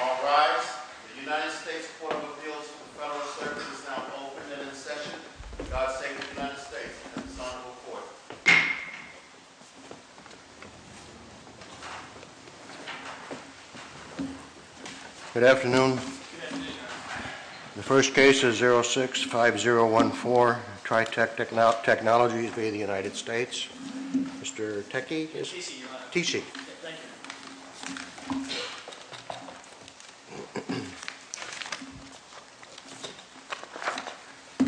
All rise, the United States Court of Appeals for Federal Service is now open and in session. For God's sake, the United States and its honorable court. Good afternoon. The first case is 06-5014, Tritec Technologies v. the United States. Mr. Techie? Yes, T.C., Your Honor. T.C. Thank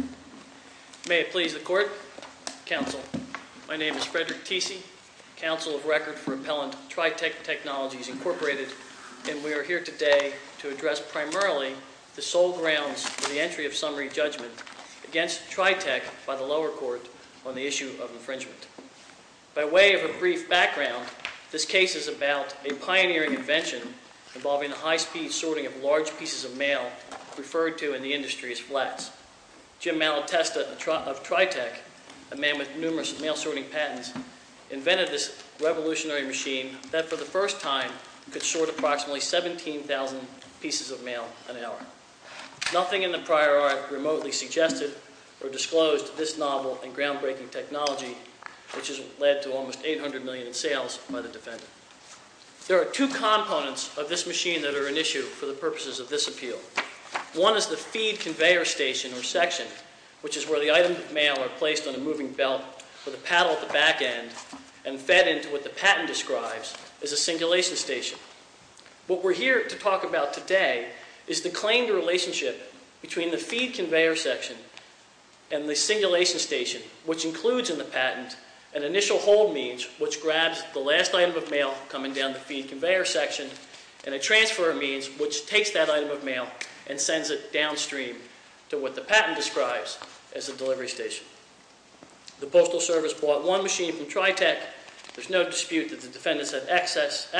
you. May it please the Court, Counsel. My name is Frederick T.C., Counsel of Record for Appellant Tritec Technologies, Incorporated, and we are here today to address primarily the sole grounds for the entry of summary judgment against Tritec by the lower court on the issue of infringement. By way of a brief background, this case is about a pioneering invention involving a high-speed sorting of large pieces of mail referred to in the industry as flats. Jim Malatesta of Tritec, a man with numerous mail-sorting patents, invented this revolutionary machine that, for the first time, could sort approximately 17,000 pieces of mail an hour. Nothing in the prior art remotely suggested or disclosed this novel and groundbreaking technology, which has led to almost $800 million in sales by the defendant. There are two components of this machine that are an issue for the purposes of this appeal. One is the feed conveyor station or section, which is where the items of mail are placed on a moving belt with a paddle at the back end and fed into what the patent describes as a singulation station. What we're here to talk about today is the claimed relationship between the feed conveyor section and the singulation station, which includes in the patent an initial hold means, which grabs the last item of mail coming down the feed conveyor section, and a transfer means, which takes that item of mail and sends it downstream to what the patent describes as a delivery station. The Postal Service bought one machine from Tritec. There's no dispute that the defendants had access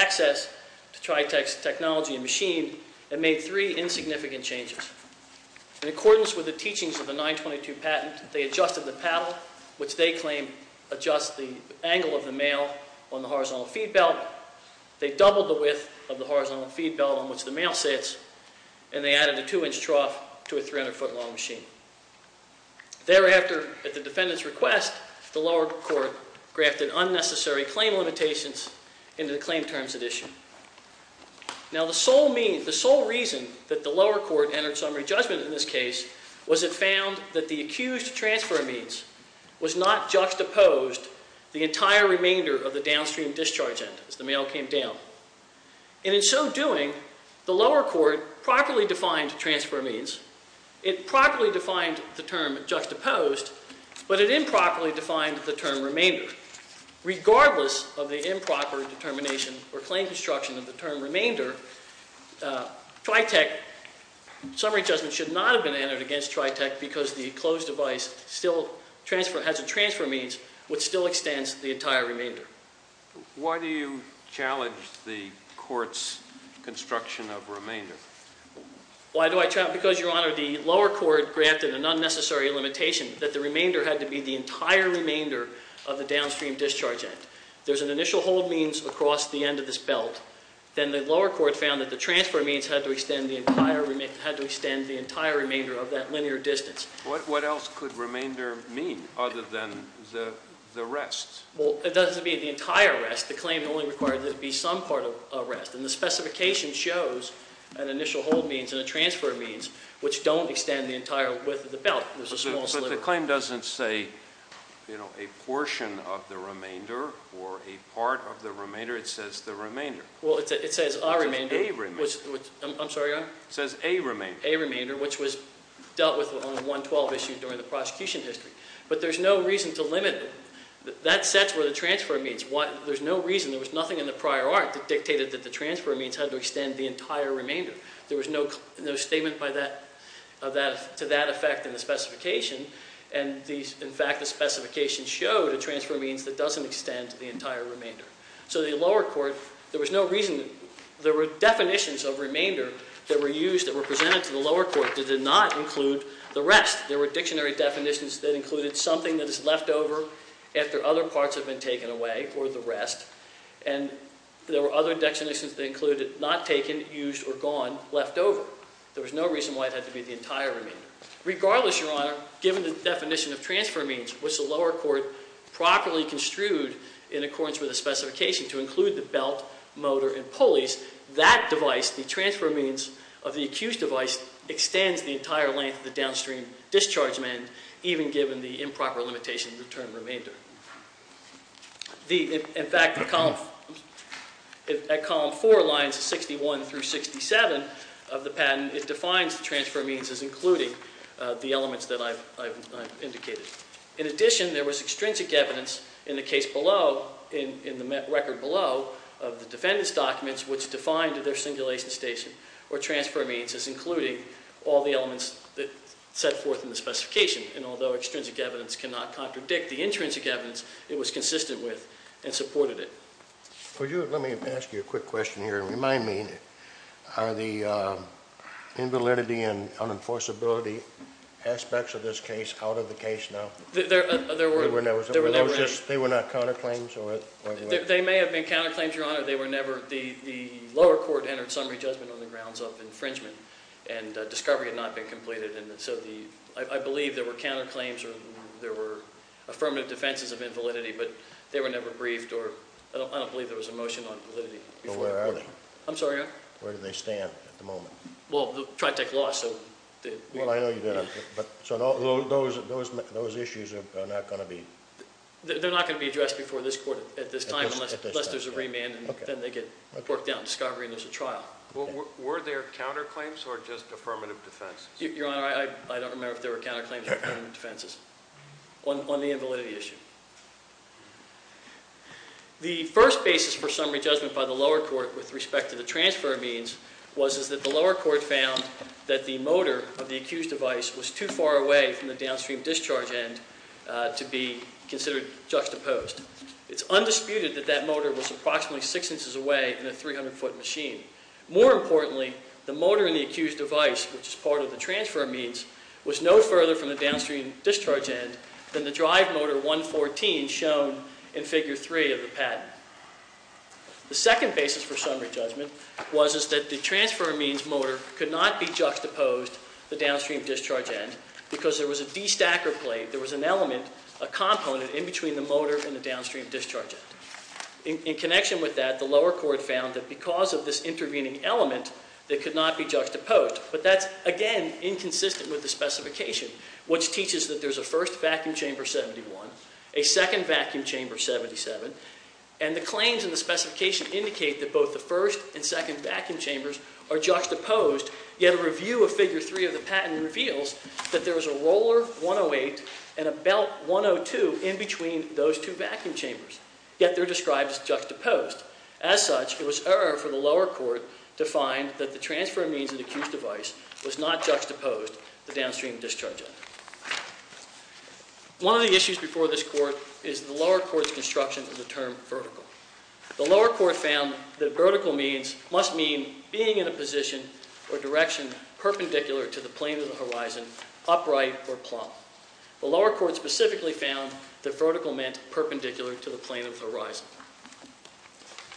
to Tritec's technology and machine and made three insignificant changes. In accordance with the teachings of the 922 patent, they adjusted the paddle, which they claim adjusts the angle of the mail on the horizontal feed belt. They doubled the width of the horizontal feed belt on which the mail sits, and they added a two-inch trough to a 300-foot-long machine. Thereafter, at the defendant's request, the lower court grafted unnecessary claim limitations into the claim terms at issue. Now, the sole reason that the lower court entered summary judgment in this case was it found that the accused transfer of means was not juxtaposed the entire remainder of the downstream discharge end as the mail came down. And in so doing, the lower court properly defined transfer of means. It properly defined the term juxtaposed, but it improperly defined the term remainder. Regardless of the improper determination or claim construction of the term remainder, Tritec summary judgment should not have been entered against Tritec because the closed device still has a transfer of means which still extends the entire remainder. Why do you challenge the court's construction of remainder? Why do I challenge? Because, Your Honor, the lower court grafted an unnecessary limitation that the remainder had to be the entire remainder of the downstream discharge end. There's an initial hold means across the end of this belt. Then the lower court found that the transfer of means had to extend the entire remainder of that linear distance. What else could remainder mean other than the rest? Well, it doesn't mean the entire rest. The claim only required that it be some part of a rest. And the specification shows an initial hold means and a transfer of means which don't extend the entire width of the belt. There's a small sliver. But the claim doesn't say, you know, a portion of the remainder or a part of the remainder. It says the remainder. Well, it says a remainder. It says a remainder. I'm sorry, Your Honor? It says a remainder. A remainder, which was dealt with on the 112 issue during the prosecution history. But there's no reason to limit it. That sets where the transfer of means. There's no reason. There was nothing in the prior art that dictated that the transfer of means had to extend the entire remainder. There was no statement to that effect in the specification. And, in fact, the specification showed a transfer of means that doesn't extend the entire remainder. So the lower court, there was no reason. There were definitions of remainder that were used that were presented to the lower court that did not include the rest. There were dictionary definitions that included something that is left over after other parts have been taken away or the rest. And there were other definitions that included not taken, used, or gone, left over. There was no reason why it had to be the entire remainder. Regardless, Your Honor, given the definition of transfer of means, which the lower court properly construed in accordance with the specification to include the belt, motor, and pulleys, that device, the transfer of means of the accused device, extends the entire length of the downstream discharge mend, even given the improper limitation of the term remainder. In fact, at column 4, lines 61 through 67 of the patent, it defines the transfer of means as including the elements that I've indicated. In addition, there was extrinsic evidence in the case below, in the record below, of the defendant's documents which defined their simulation station or transfer of means as including all the elements that set forth in the specification. And although extrinsic evidence cannot contradict the intrinsic evidence, it was consistent with and supported it. Let me ask you a quick question here. Remind me, are the invalidity and unenforceability aspects of this case out of the case now? There were never any. They were not counterclaims? They may have been counterclaims, Your Honor. The lower court entered summary judgment on the grounds of infringement, and discovery had not been completed. I believe there were counterclaims or there were affirmative defenses of invalidity, but they were never briefed. I don't believe there was a motion on validity. Where are they? I'm sorry, Your Honor? Where do they stand at the moment? Well, TriTech Law, so... Well, I know you did. So those issues are not going to be... They're not going to be addressed before this court at this time unless there's a remand, and then they get worked out in discovery and there's a trial. Were there counterclaims or just affirmative defenses? Your Honor, I don't remember if there were counterclaims or affirmative defenses on the invalidity issue. The first basis for summary judgment by the lower court with respect to the transfer of means was that the lower court found that the motor of the accused device was too far away from the downstream discharge end to be considered juxtaposed. It's undisputed that that motor was approximately six inches away in a 300-foot machine. More importantly, the motor in the accused device, which is part of the transfer of means, was no further from the downstream discharge end than the drive motor 114 shown in Figure 3 of the patent. The second basis for summary judgment was that the transfer of means motor could not be juxtaposed to the downstream discharge end because there was a destacker plate. There was an element, a component in between the motor and the downstream discharge end. In connection with that, the lower court found that because of this intervening element, it could not be juxtaposed. But that's, again, inconsistent with the specification, which teaches that there's a first vacuum chamber 71, a second vacuum chamber 77, and the claims in the specification indicate that both the first and second vacuum chambers are juxtaposed. Yet a review of Figure 3 of the patent reveals that there is a roller 108 and a belt 102 in between those two vacuum chambers. Yet they're described as juxtaposed. As such, it was error for the lower court to find that the transfer of means in the accused device was not juxtaposed to the downstream discharge end. One of the issues before this court is the lower court's construction of the term vertical. The lower court found that vertical means must mean being in a position or direction perpendicular to the plane of the horizon, upright or plumb. The lower court specifically found that vertical meant perpendicular to the plane of the horizon.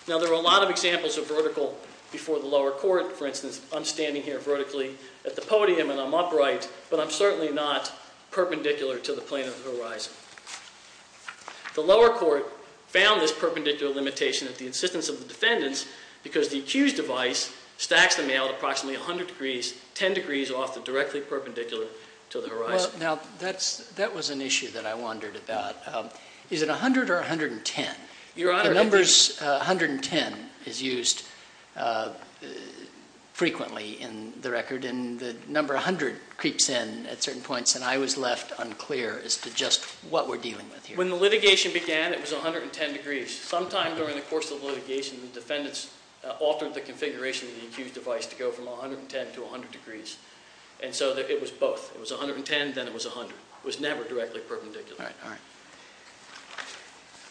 Now, there are a lot of examples of vertical before the lower court. For instance, I'm standing here vertically at the podium and I'm upright, but I'm certainly not perpendicular to the plane of the horizon. The lower court found this perpendicular limitation at the insistence of the defendants because the accused device stacks the male at approximately 100 degrees, 10 degrees off the directly perpendicular to the horizon. Now, that was an issue that I wondered about. Is it 100 or 110? The numbers 110 is used frequently in the record, and the number 100 creeps in at certain points, and I was left unclear as to just what we're dealing with here. When the litigation began, it was 110 degrees. Sometime during the course of the litigation, the defendants altered the configuration of the accused device to go from 110 to 100 degrees, and so it was both. It was 110, then it was 100. It was never directly perpendicular.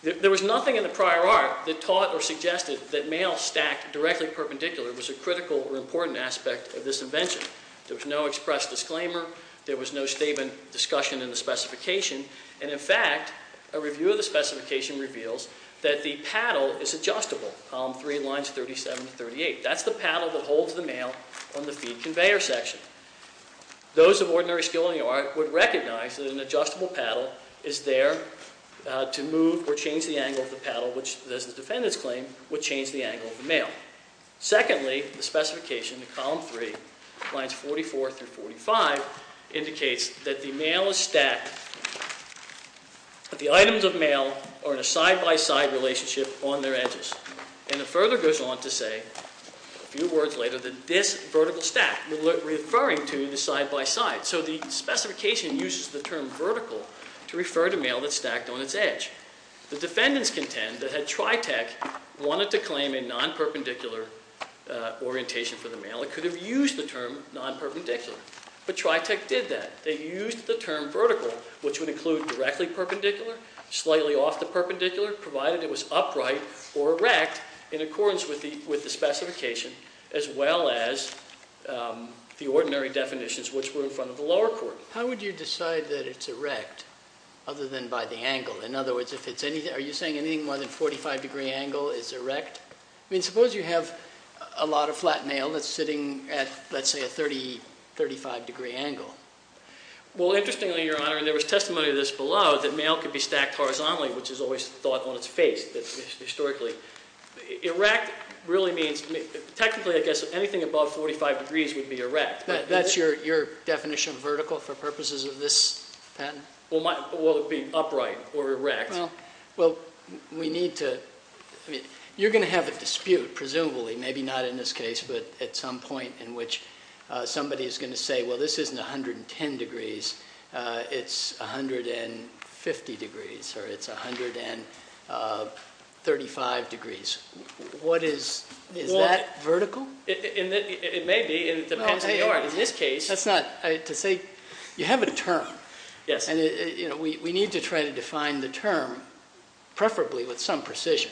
There was nothing in the prior art that taught or suggested that male stacked directly perpendicular was a critical or important aspect of this invention. There was no express disclaimer. There was no statement discussion in the specification, and in fact, a review of the specification reveals that the paddle is adjustable, column 3, lines 37 to 38. That's the paddle that holds the male on the feed conveyor section. Those of ordinary skill in the art would recognize that an adjustable paddle is there to move or change the angle of the paddle, which, as the defendants claim, would change the angle of the male. Secondly, the specification, column 3, lines 44 through 45, indicates that the items of male are in a side-by-side relationship on their edges. And it further goes on to say, a few words later, that this vertical stack, referring to the side-by-side. So the specification uses the term vertical to refer to male that's stacked on its edge. The defendants contend that had Tritec wanted to claim a non-perpendicular orientation for the male, it could have used the term non-perpendicular, but Tritec did that. They used the term vertical, which would include directly perpendicular, slightly off the perpendicular, provided it was upright or erect, in accordance with the specification, as well as the ordinary definitions which were in front of the lower court. How would you decide that it's erect, other than by the angle? In other words, are you saying anything more than a 45 degree angle is erect? I mean, suppose you have a lot of flat male that's sitting at, let's say, a 30, 35 degree angle. Well, interestingly, Your Honor, and there was testimony to this below, that male could be stacked horizontally, which is always thought on its face, historically. Erect really means, technically, I guess, anything above 45 degrees would be erect. That's your definition of vertical for purposes of this patent? Well, it would be upright or erect. Well, you're going to have a dispute, presumably, maybe not in this case, but at some point in which somebody is going to say, well, this isn't 110 degrees, it's 150 degrees, or it's 135 degrees. Is that vertical? It may be. It depends on the art. You have a term, and we need to try to define the term, preferably with some precision.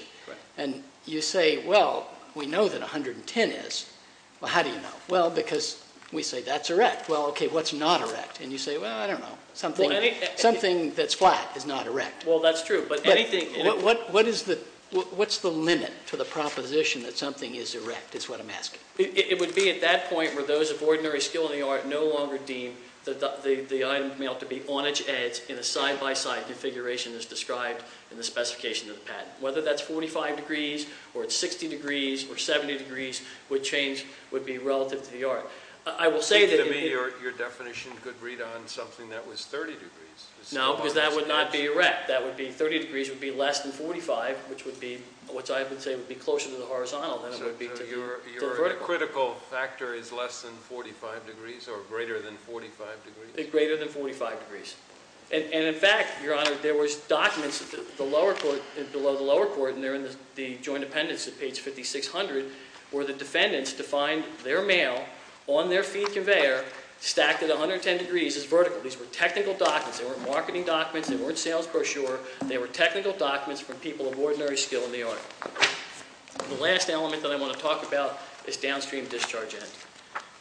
And you say, well, we know that 110 is, well, how do you know? Well, because we say that's erect. Well, okay, what's not erect? And you say, well, I don't know, something that's flat is not erect. Well, that's true. What's the limit to the proposition that something is erect, is what I'm asking. It would be at that point where those of ordinary skill in the art no longer deem the item to be on its edge in a side-by-side configuration as described in the specification of the patent. Whether that's 45 degrees, or it's 60 degrees, or 70 degrees, would change, would be relative to the art. I will say that it would be. To me, your definition could read on something that was 30 degrees. No, because that would not be erect. That would be 30 degrees would be less than 45, which I would say would be closer to the horizontal than it would be to the vertical. Your critical factor is less than 45 degrees, or greater than 45 degrees? Greater than 45 degrees. And, in fact, Your Honor, there was documents below the lower court, and they're in the joint appendix at page 5600, where the defendants defined their mail on their feed conveyor stacked at 110 degrees as vertical. These were technical documents. They weren't marketing documents. They weren't sales brochure. They were technical documents from people of ordinary skill in the art. The last element that I want to talk about is downstream discharge end.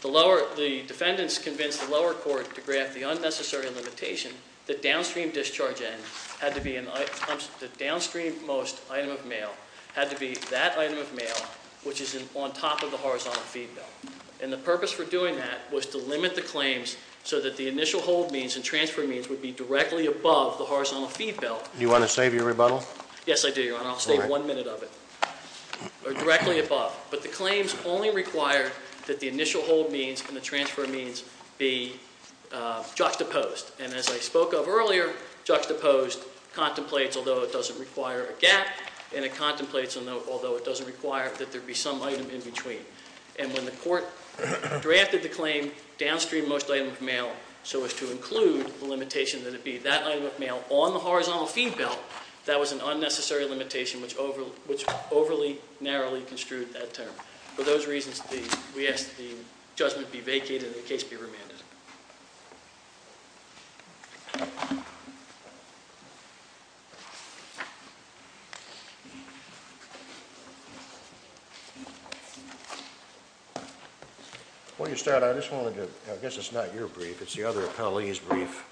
The defendants convinced the lower court to grant the unnecessary limitation that downstream discharge end had to be, the downstream most item of mail had to be that item of mail which is on top of the horizontal feed belt. And the purpose for doing that was to limit the claims so that the initial hold means and transfer means would be directly above the horizontal feed belt. You want to save your rebuttal? Yes, I do, Your Honor. I'll save one minute of it, or directly above. But the claims only require that the initial hold means and the transfer means be juxtaposed. And as I spoke of earlier, juxtaposed contemplates, although it doesn't require a gap, and it contemplates, although it doesn't require that there be some item in between. And when the court drafted the claim downstream most item of mail so as to include the limitation that it be that item of mail on the horizontal feed belt, that was an unnecessary limitation which overly, narrowly construed that term. For those reasons, we ask that the judgment be vacated and the case be remanded. Before you start, I just wanted to, I guess it's not your brief, it's the other appellee's brief.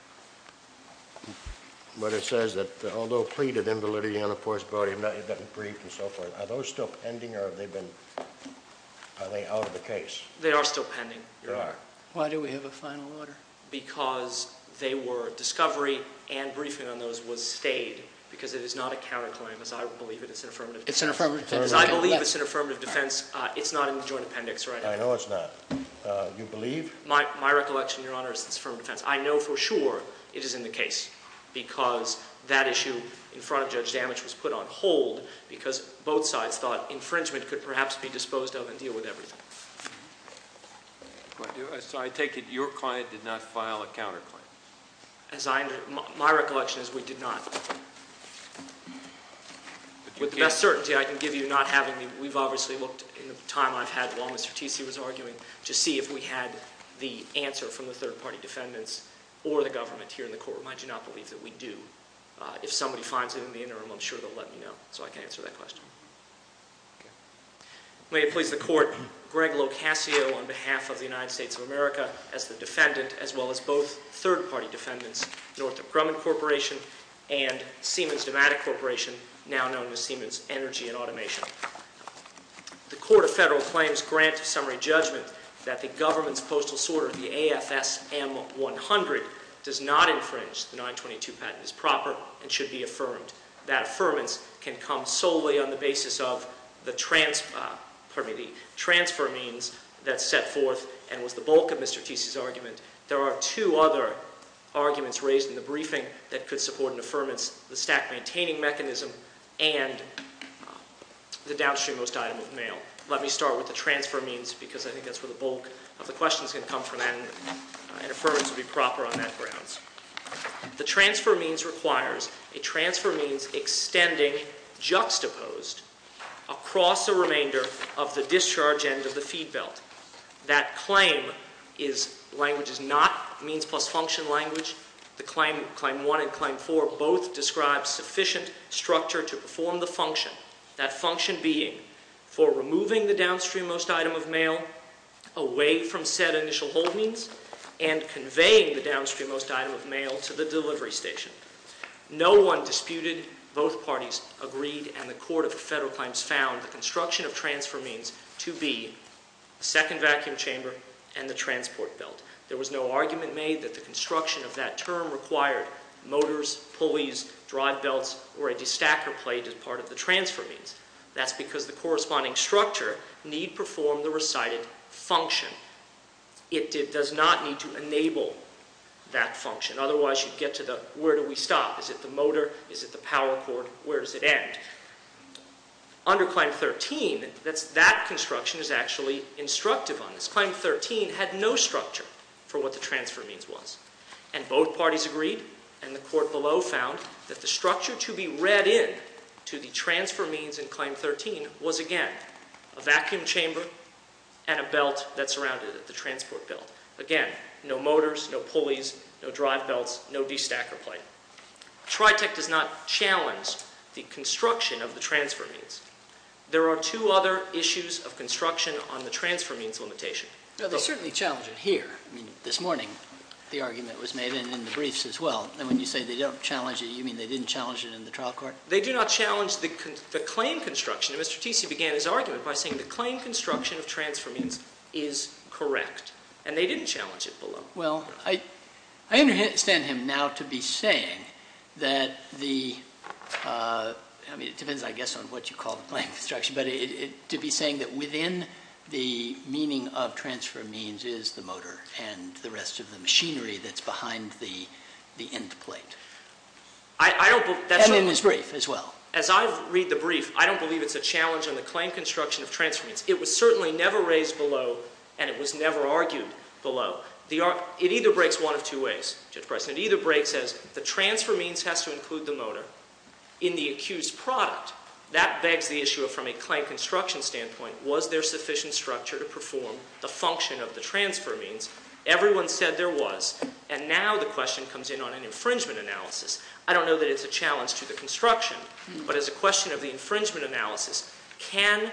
But it says that although pleaded invalidity on the first body, it doesn't brief and so forth. Are those still pending or have they been, are they out of the case? They are still pending, Your Honor. Why do we have a final order? Because they were, discovery and briefing on those was stayed because it is not a counterclaim as I believe it is an affirmative defense. It's an affirmative defense. As I believe it's an affirmative defense, it's not in the joint appendix, right? I know it's not. You believe? My recollection, Your Honor, is it's affirmative defense. I know for sure it is in the case because that issue in front of Judge Damage was put on hold because both sides thought infringement could perhaps be disposed of and deal with everything. So I take it your client did not file a counterclaim? As I, my recollection is we did not. With the best certainty I can give you not having, we've obviously looked in the time I've had while Mr. Tesey was arguing to see if we had the answer from the third-party defendants or the government here in the court room. I do not believe that we do. If somebody finds it in the interim, I'm sure they'll let me know so I can answer that question. May it please the court, Greg Locascio on behalf of the United States of America as the defendant as well as both third-party defendants, Northrop Grumman Corporation and Siemens Domatic Corporation, now known as Siemens Energy and Automation. The court of federal claims grant summary judgment that the government's postal sorter, the AFSM-100, does not infringe the 922 patent as proper and should be affirmed. That affirmance can come solely on the basis of the transfer means that's set forth and was the bulk of Mr. Tesey's argument. There are two other arguments raised in the briefing that could support an affirmance, the stack-maintaining mechanism and the downstream-most item of mail. Let me start with the transfer means because I think that's where the bulk of the questions can come from and an affirmance would be proper on that grounds. The transfer means requires a transfer means extending juxtaposed across the remainder of the discharge end of the feed belt. That claim is language is not means plus function language. The claim 1 and claim 4 both describe sufficient structure to perform the function, that function being for removing the downstream-most item of mail away from said initial hold means and conveying the downstream-most item of mail to the delivery station. No one disputed. Both parties agreed. And the Court of Federal Claims found the construction of transfer means to be the second vacuum chamber and the transport belt. There was no argument made that the construction of that term required motors, pulleys, drive belts, or a destacker plate as part of the transfer means. That's because the corresponding structure need perform the recited function. It does not need to enable that function. Otherwise, you'd get to the where do we stop? Is it the motor? Is it the power cord? Where does it end? Under Claim 13, that construction is actually instructive on this. Claim 13 had no structure for what the transfer means was. And both parties agreed and the Court below found that the structure to be read in to the transfer means in Claim 13 was, again, a vacuum chamber and a belt that surrounded it, the transport belt. Again, no motors, no pulleys, no drive belts, no destacker plate. Tritec does not challenge the construction of the transfer means. There are two other issues of construction on the transfer means limitation. They certainly challenge it here. I mean, this morning the argument was made in the briefs as well. And when you say they don't challenge it, you mean they didn't challenge it in the trial court? They do not challenge the claim construction. And Mr. Tritec began his argument by saying the claim construction of transfer means is correct. And they didn't challenge it below. Well, I understand him now to be saying that the, I mean, it depends, I guess, on what you call the claim construction, but to be saying that within the meaning of transfer means is the motor and the rest of the machinery that's behind the end plate. And in his brief as well. As I read the brief, I don't believe it's a challenge on the claim construction of transfer means. It was certainly never raised below, and it was never argued below. It either breaks one of two ways, Judge Price. It either breaks as the transfer means has to include the motor in the accused product. That begs the issue of from a claim construction standpoint, was there sufficient structure to perform the function of the transfer means? Everyone said there was. And now the question comes in on an infringement analysis. I don't know that it's a challenge to the construction, but as a question of the infringement analysis, can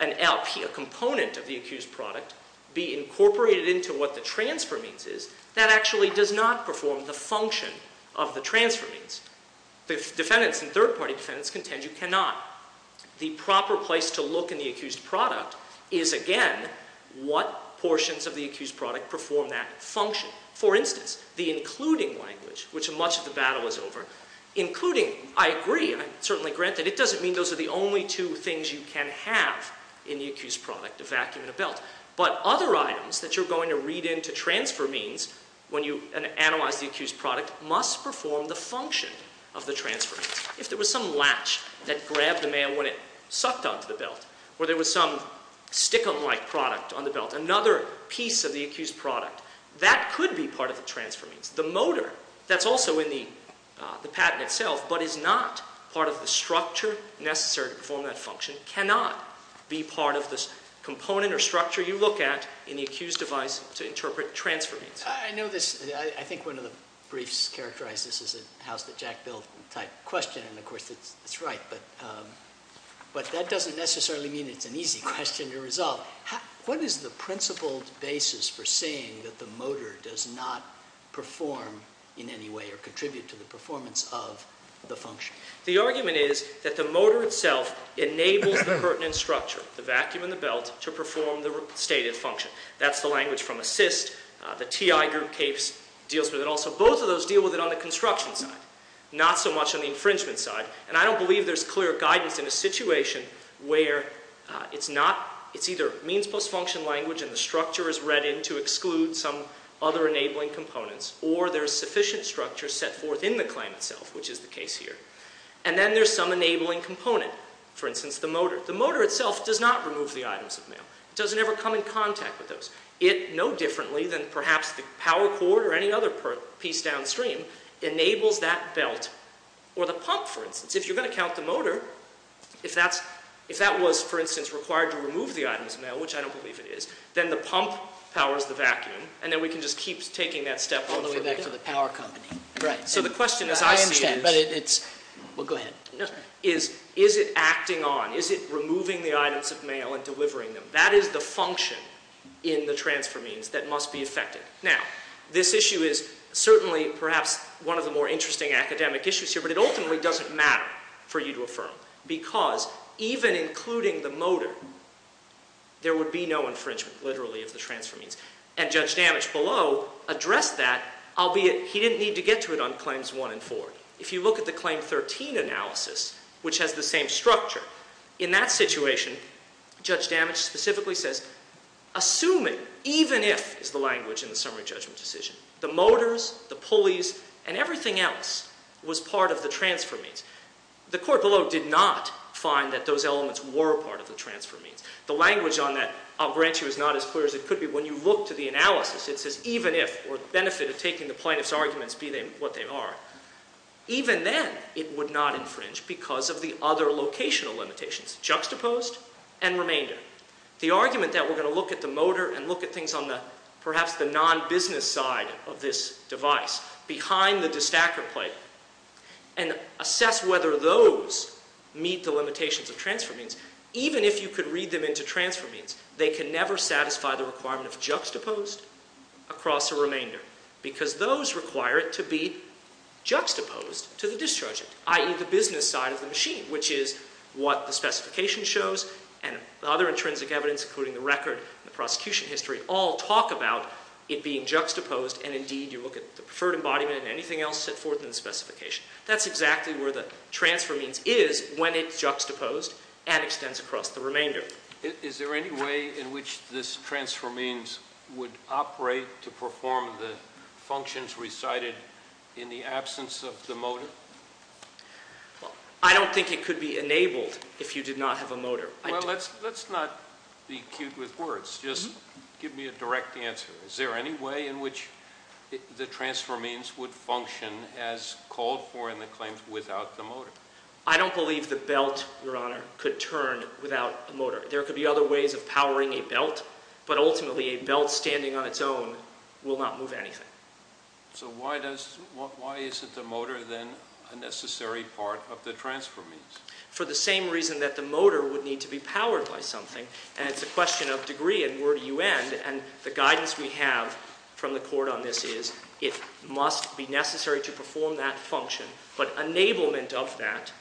an LP, a component of the accused product, be incorporated into what the transfer means is? That actually does not perform the function of the transfer means. The defendants and third party defendants contend you cannot. The proper place to look in the accused product is, again, what portions of the accused product perform that function. For instance, the including language, which much of the battle is over. Including, I agree, and I certainly grant that. It doesn't mean those are the only two things you can have in the accused product, a vacuum and a belt. But other items that you're going to read into transfer means when you analyze the accused product must perform the function of the transfer means. If there was some latch that grabbed the mail when it sucked onto the belt, or there was some stick-em-like product on the belt, another piece of the accused product, that could be part of the transfer means. The motor, that's also in the patent itself, but is not part of the structure necessary to perform that function, cannot be part of the component or structure you look at in the accused device to interpret transfer means. I know this, I think one of the briefs characterized this as a house that Jack built type question, and of course that's right, but that doesn't necessarily mean it's an easy question to resolve. What is the principled basis for saying that the motor does not perform in any way or contribute to the performance of the function? The argument is that the motor itself enables the curtain and structure, the vacuum and the belt, to perform the stated function. That's the language from ASSIST. The TI group deals with it also. Both of those deal with it on the construction side, not so much on the infringement side. And I don't believe there's clear guidance in a situation where it's either means plus function language and the structure is read in to exclude some other enabling components, or there's sufficient structure set forth in the claim itself, which is the case here. And then there's some enabling component, for instance the motor. The motor itself does not remove the items of mail. It doesn't ever come in contact with those. It, no differently than perhaps the power cord or any other piece downstream, enables that belt or the pump, for instance. If you're going to count the motor, if that was, for instance, required to remove the items of mail, which I don't believe it is, then the pump powers the vacuum, and then we can just keep taking that step all the way back to the power company. So the question, as I see it, is is it acting on, is it removing the items of mail and delivering them? That is the function in the transfer means that must be affected. Now, this issue is certainly perhaps one of the more interesting academic issues here, but it ultimately doesn't matter for you to affirm, because even including the motor, there would be no infringement, literally, of the transfer means. And Judge Damage below addressed that, albeit he didn't need to get to it on Claims 1 and 4. If you look at the Claim 13 analysis, which has the same structure, in that situation, Judge Damage specifically says, assuming, even if, is the language in the summary judgment decision, the motors, the pulleys, and everything else was part of the transfer means. The court below did not find that those elements were part of the transfer means. The language on that, I'll grant you, is not as clear as it could be. When you look to the analysis, it says even if, or the benefit of taking the plaintiff's arguments, be they what they are, even then, it would not infringe because of the other locational limitations, juxtaposed and remainder. The argument that we're going to look at the motor and look at things on the, perhaps the non-business side of this device, behind the distacker plate, and assess whether those meet the limitations of transfer means, even if you could read them into transfer means, they can never satisfy the requirement of juxtaposed across a remainder, because those require it to be juxtaposed to the discharger, i.e., the business side of the machine, which is what the specification shows and other intrinsic evidence, including the record and the prosecution history, all talk about it being juxtaposed and, indeed, you look at the preferred embodiment and anything else set forth in the specification. That's exactly where the transfer means is when it's juxtaposed and extends across the remainder. Is there any way in which this transfer means would operate to perform the functions recited in the absence of the motor? I don't think it could be enabled if you did not have a motor. Well, let's not be cute with words. Just give me a direct answer. Is there any way in which the transfer means would function as called for in the claims without the motor? I don't believe the belt, Your Honor, could turn without a motor. There could be other ways of powering a belt, but ultimately a belt standing on its own will not move anything. So why is it the motor then a necessary part of the transfer means? For the same reason that the motor would need to be powered by something, and it's a question of degree and where do you end, and the guidance we have from the court on this is it must be necessary to perform that function, but enablement of that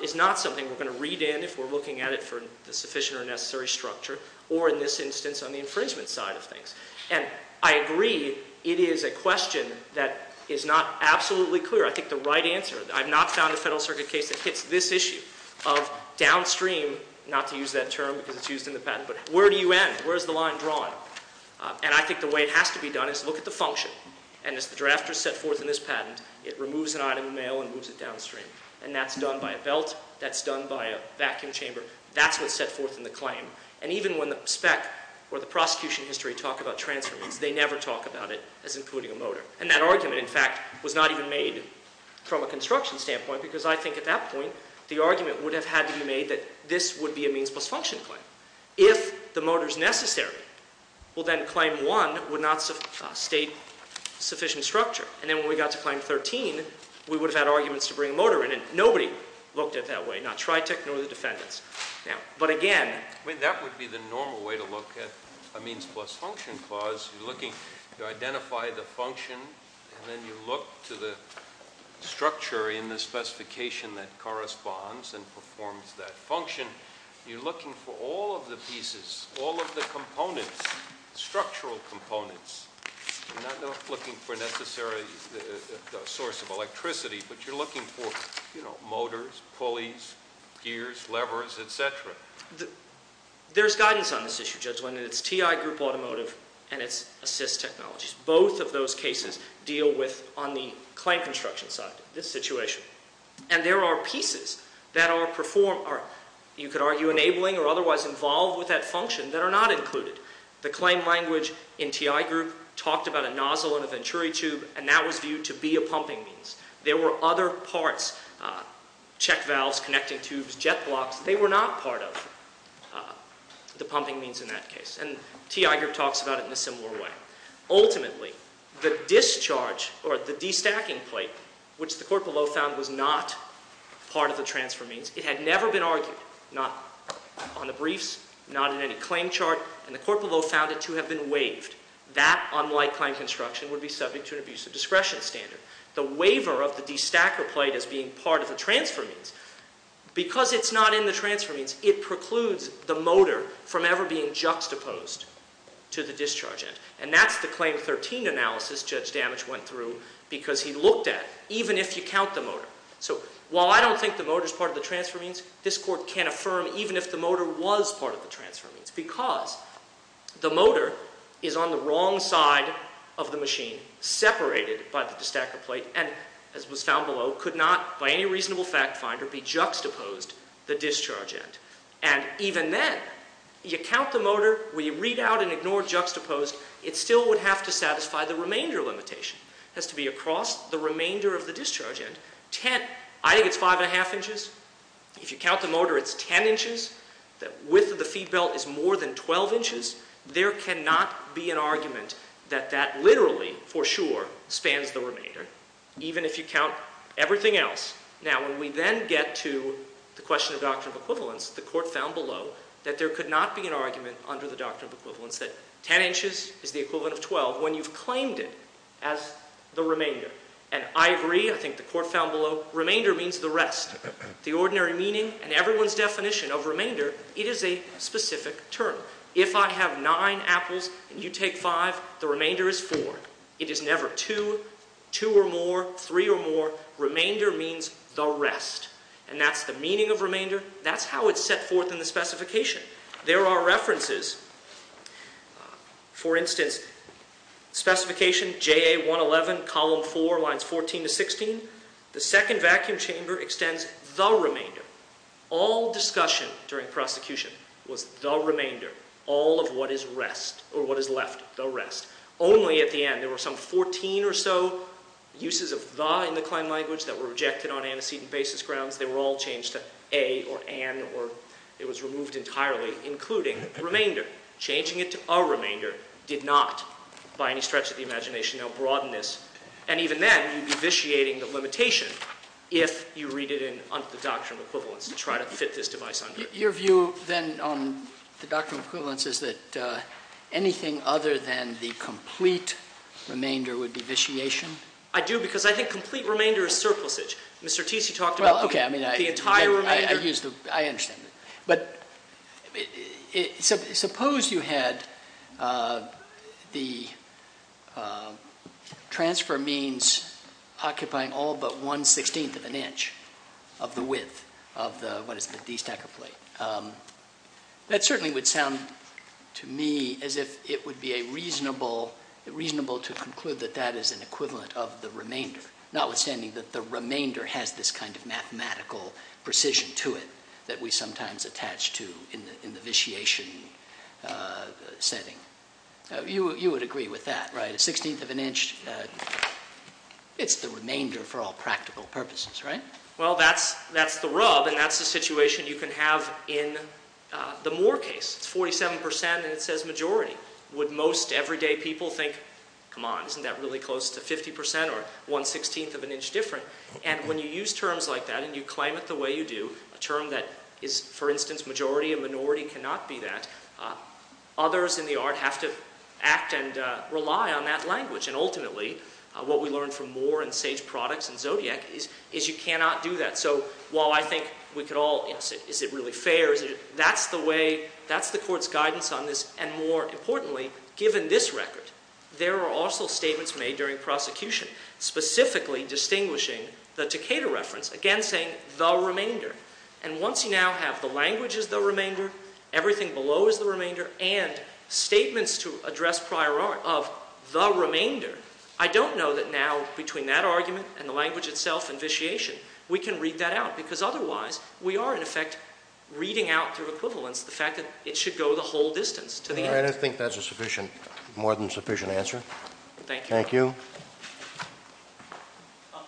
is not something we're going to read in if we're looking at it for the sufficient or necessary structure or in this instance on the infringement side of things. And I agree it is a question that is not absolutely clear. I think the right answer, I've not found a Federal Circuit case that hits this issue of downstream, not to use that term because it's used in the patent, but where do you end? Where is the line drawn? And I think the way it has to be done is look at the function, and as the drafter set forth in this patent, it removes an item of mail and moves it downstream, and that's done by a belt, that's done by a vacuum chamber, that's what's set forth in the claim, and even when the spec or the prosecution history talk about transfer means, they never talk about it as including a motor, and that argument in fact was not even made from a construction standpoint because I think at that point the argument would have had to be made that this would be a means plus function claim. If the motor is necessary, well then claim one would not state sufficient structure, and then when we got to claim 13, we would have had arguments to bring a motor in, and nobody looked at it that way, not TriTech nor the defendants. Now, but again... I mean that would be the normal way to look at a means plus function clause. You're looking to identify the function, and then you look to the structure in the specification that corresponds and performs that function. You're looking for all of the pieces, all of the components, structural components. You're not looking for necessarily the source of electricity, but you're looking for, you know, motors, pulleys, gears, levers, et cetera. There's guidance on this issue, Judge Wyndham. It's TI Group Automotive and it's assist technologies. Both of those cases deal with on the claim construction side, this situation, and there are pieces that are performed or you could argue enabling or otherwise involved with that function that are not included. The claim language in TI Group talked about a nozzle and a venturi tube, and that was viewed to be a pumping means. There were other parts, check valves, connecting tubes, jet blocks. They were not part of the pumping means in that case, and TI Group talks about it in a similar way. Ultimately, the discharge or the destacking plate, which the court below found was not part of the transfer means, it had never been argued, not on the briefs, not in any claim chart, and the court below found it to have been waived. That, unlike claim construction, would be subject to an abusive discretion standard. The waiver of the destacker plate as being part of the transfer means, because it's not in the transfer means, it precludes the motor from ever being juxtaposed to the discharge end, and that's the claim 13 analysis Judge Damage went through because he looked at it, even if you count the motor. So while I don't think the motor is part of the transfer means, this court can't affirm even if the motor was part of the transfer means because the motor is on the wrong side of the machine, separated by the destacker plate, and as was found below, could not, by any reasonable fact finder, be juxtaposed to the discharge end. And even then, you count the motor, when you read out and ignore juxtaposed, it still would have to satisfy the remainder limitation. It has to be across the remainder of the discharge end. I think it's 5 1⁄2 inches. If you count the motor, it's 10 inches. The width of the feed belt is more than 12 inches. Even if you count everything else. Now, when we then get to the question of doctrine of equivalence, the court found below that there could not be an argument under the doctrine of equivalence that 10 inches is the equivalent of 12 when you've claimed it as the remainder. And I agree, I think the court found below, remainder means the rest. The ordinary meaning and everyone's definition of remainder, it is a specific term. If I have nine apples and you take five, the remainder is four. It is never two, two or more, three or more. Remainder means the rest. And that's the meaning of remainder. That's how it's set forth in the specification. There are references. For instance, specification JA111, column 4, lines 14 to 16. The second vacuum chamber extends the remainder. All discussion during prosecution was the remainder. All of what is left, the rest. Only at the end, there were some 14 or so uses of the in the claim language that were rejected on antecedent basis grounds. They were all changed to a or an or it was removed entirely, including remainder. Changing it to a remainder did not, by any stretch of the imagination, now broaden this. And even then, you'd be vitiating the limitation if you read it under the doctrine of equivalence to try to fit this device under it. Your view, then, on the doctrine of equivalence is that anything other than the complete remainder would be vitiation? I do because I think complete remainder is surplusage. Mr. Teese, you talked about the entire remainder. I understand. But suppose you had the transfer means occupying all but 1 16th of an inch of the width of what is the D stacker plate. That certainly would sound to me as if it would be reasonable to conclude that that is an equivalent of the remainder, notwithstanding that the remainder has this kind of mathematical precision to it that we sometimes attach to in the vitiation setting. You would agree with that, right? 1 16th of an inch, it's the remainder for all practical purposes, right? Well, that's the rub, and that's the situation you can have in the Moore case. It's 47% and it says majority. Would most everyday people think, come on, isn't that really close to 50% or 1 16th of an inch different? And when you use terms like that and you claim it the way you do, a term that is, for instance, majority and minority cannot be that, others in the art have to act and rely on that language. And ultimately, what we learn from Moore and Sage Products and Zodiac is you cannot do that. So while I think we could all say, is it really fair? That's the way, that's the court's guidance on this. And more importantly, given this record, there are also statements made during prosecution specifically distinguishing the Takeda reference, again saying the remainder. And once you now have the language as the remainder, everything below is the remainder, and statements to address prior art of the remainder, I don't know that now, between that argument and the language itself, and vitiation, we can read that out. Because otherwise, we are, in effect, reading out through equivalence the fact that it should go the whole distance to the end. I don't think that's a more than sufficient answer. Thank you. Thank you.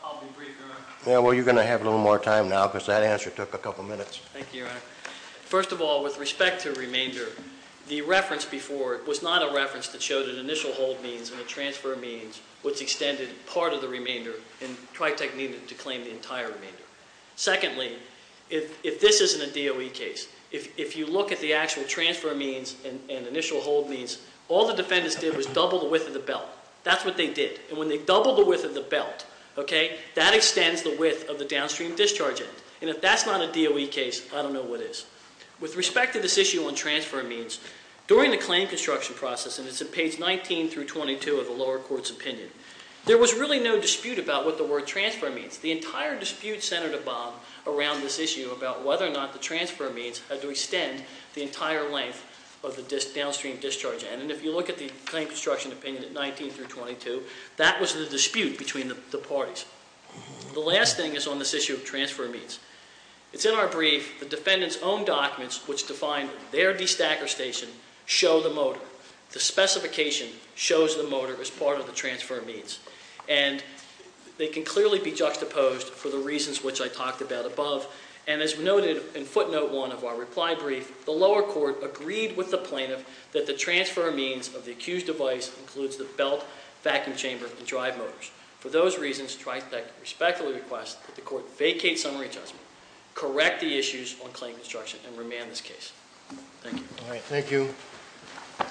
I'll be brief, Your Honor. Well, you're going to have a little more time now because that answer took a couple minutes. Thank you, Your Honor. First of all, with respect to remainder, the reference before was not a reference that showed an initial hold means and a transfer means, which extended part of the remainder, and TriTech needed to claim the entire remainder. Secondly, if this isn't a DOE case, if you look at the actual transfer means and initial hold means, all the defendants did was double the width of the belt. That's what they did. And when they doubled the width of the belt, that extends the width of the downstream discharge end. And if that's not a DOE case, I don't know what is. With respect to this issue on transfer means, during the claim construction process, and it's at page 19 through 22 of the lower court's opinion, there was really no dispute about what the word transfer means. The entire dispute centered around this issue about whether or not the transfer means had to extend the entire length of the downstream discharge end. And if you look at the claim construction opinion at 19 through 22, that was the dispute between the parties. The last thing is on this issue of transfer means. It's in our brief, the defendant's own documents, which define their destacker station, show the motor. The specification shows the motor as part of the transfer means. And they can clearly be juxtaposed for the reasons which I talked about above. And as noted in footnote 1 of our reply brief, the lower court agreed with the plaintiff that the transfer means of the accused device includes the belt, vacuum chamber, and drive motors. For those reasons, I respectfully request that the court vacate summary judgment, correct the issues on claim construction, and remand this case. Thank you.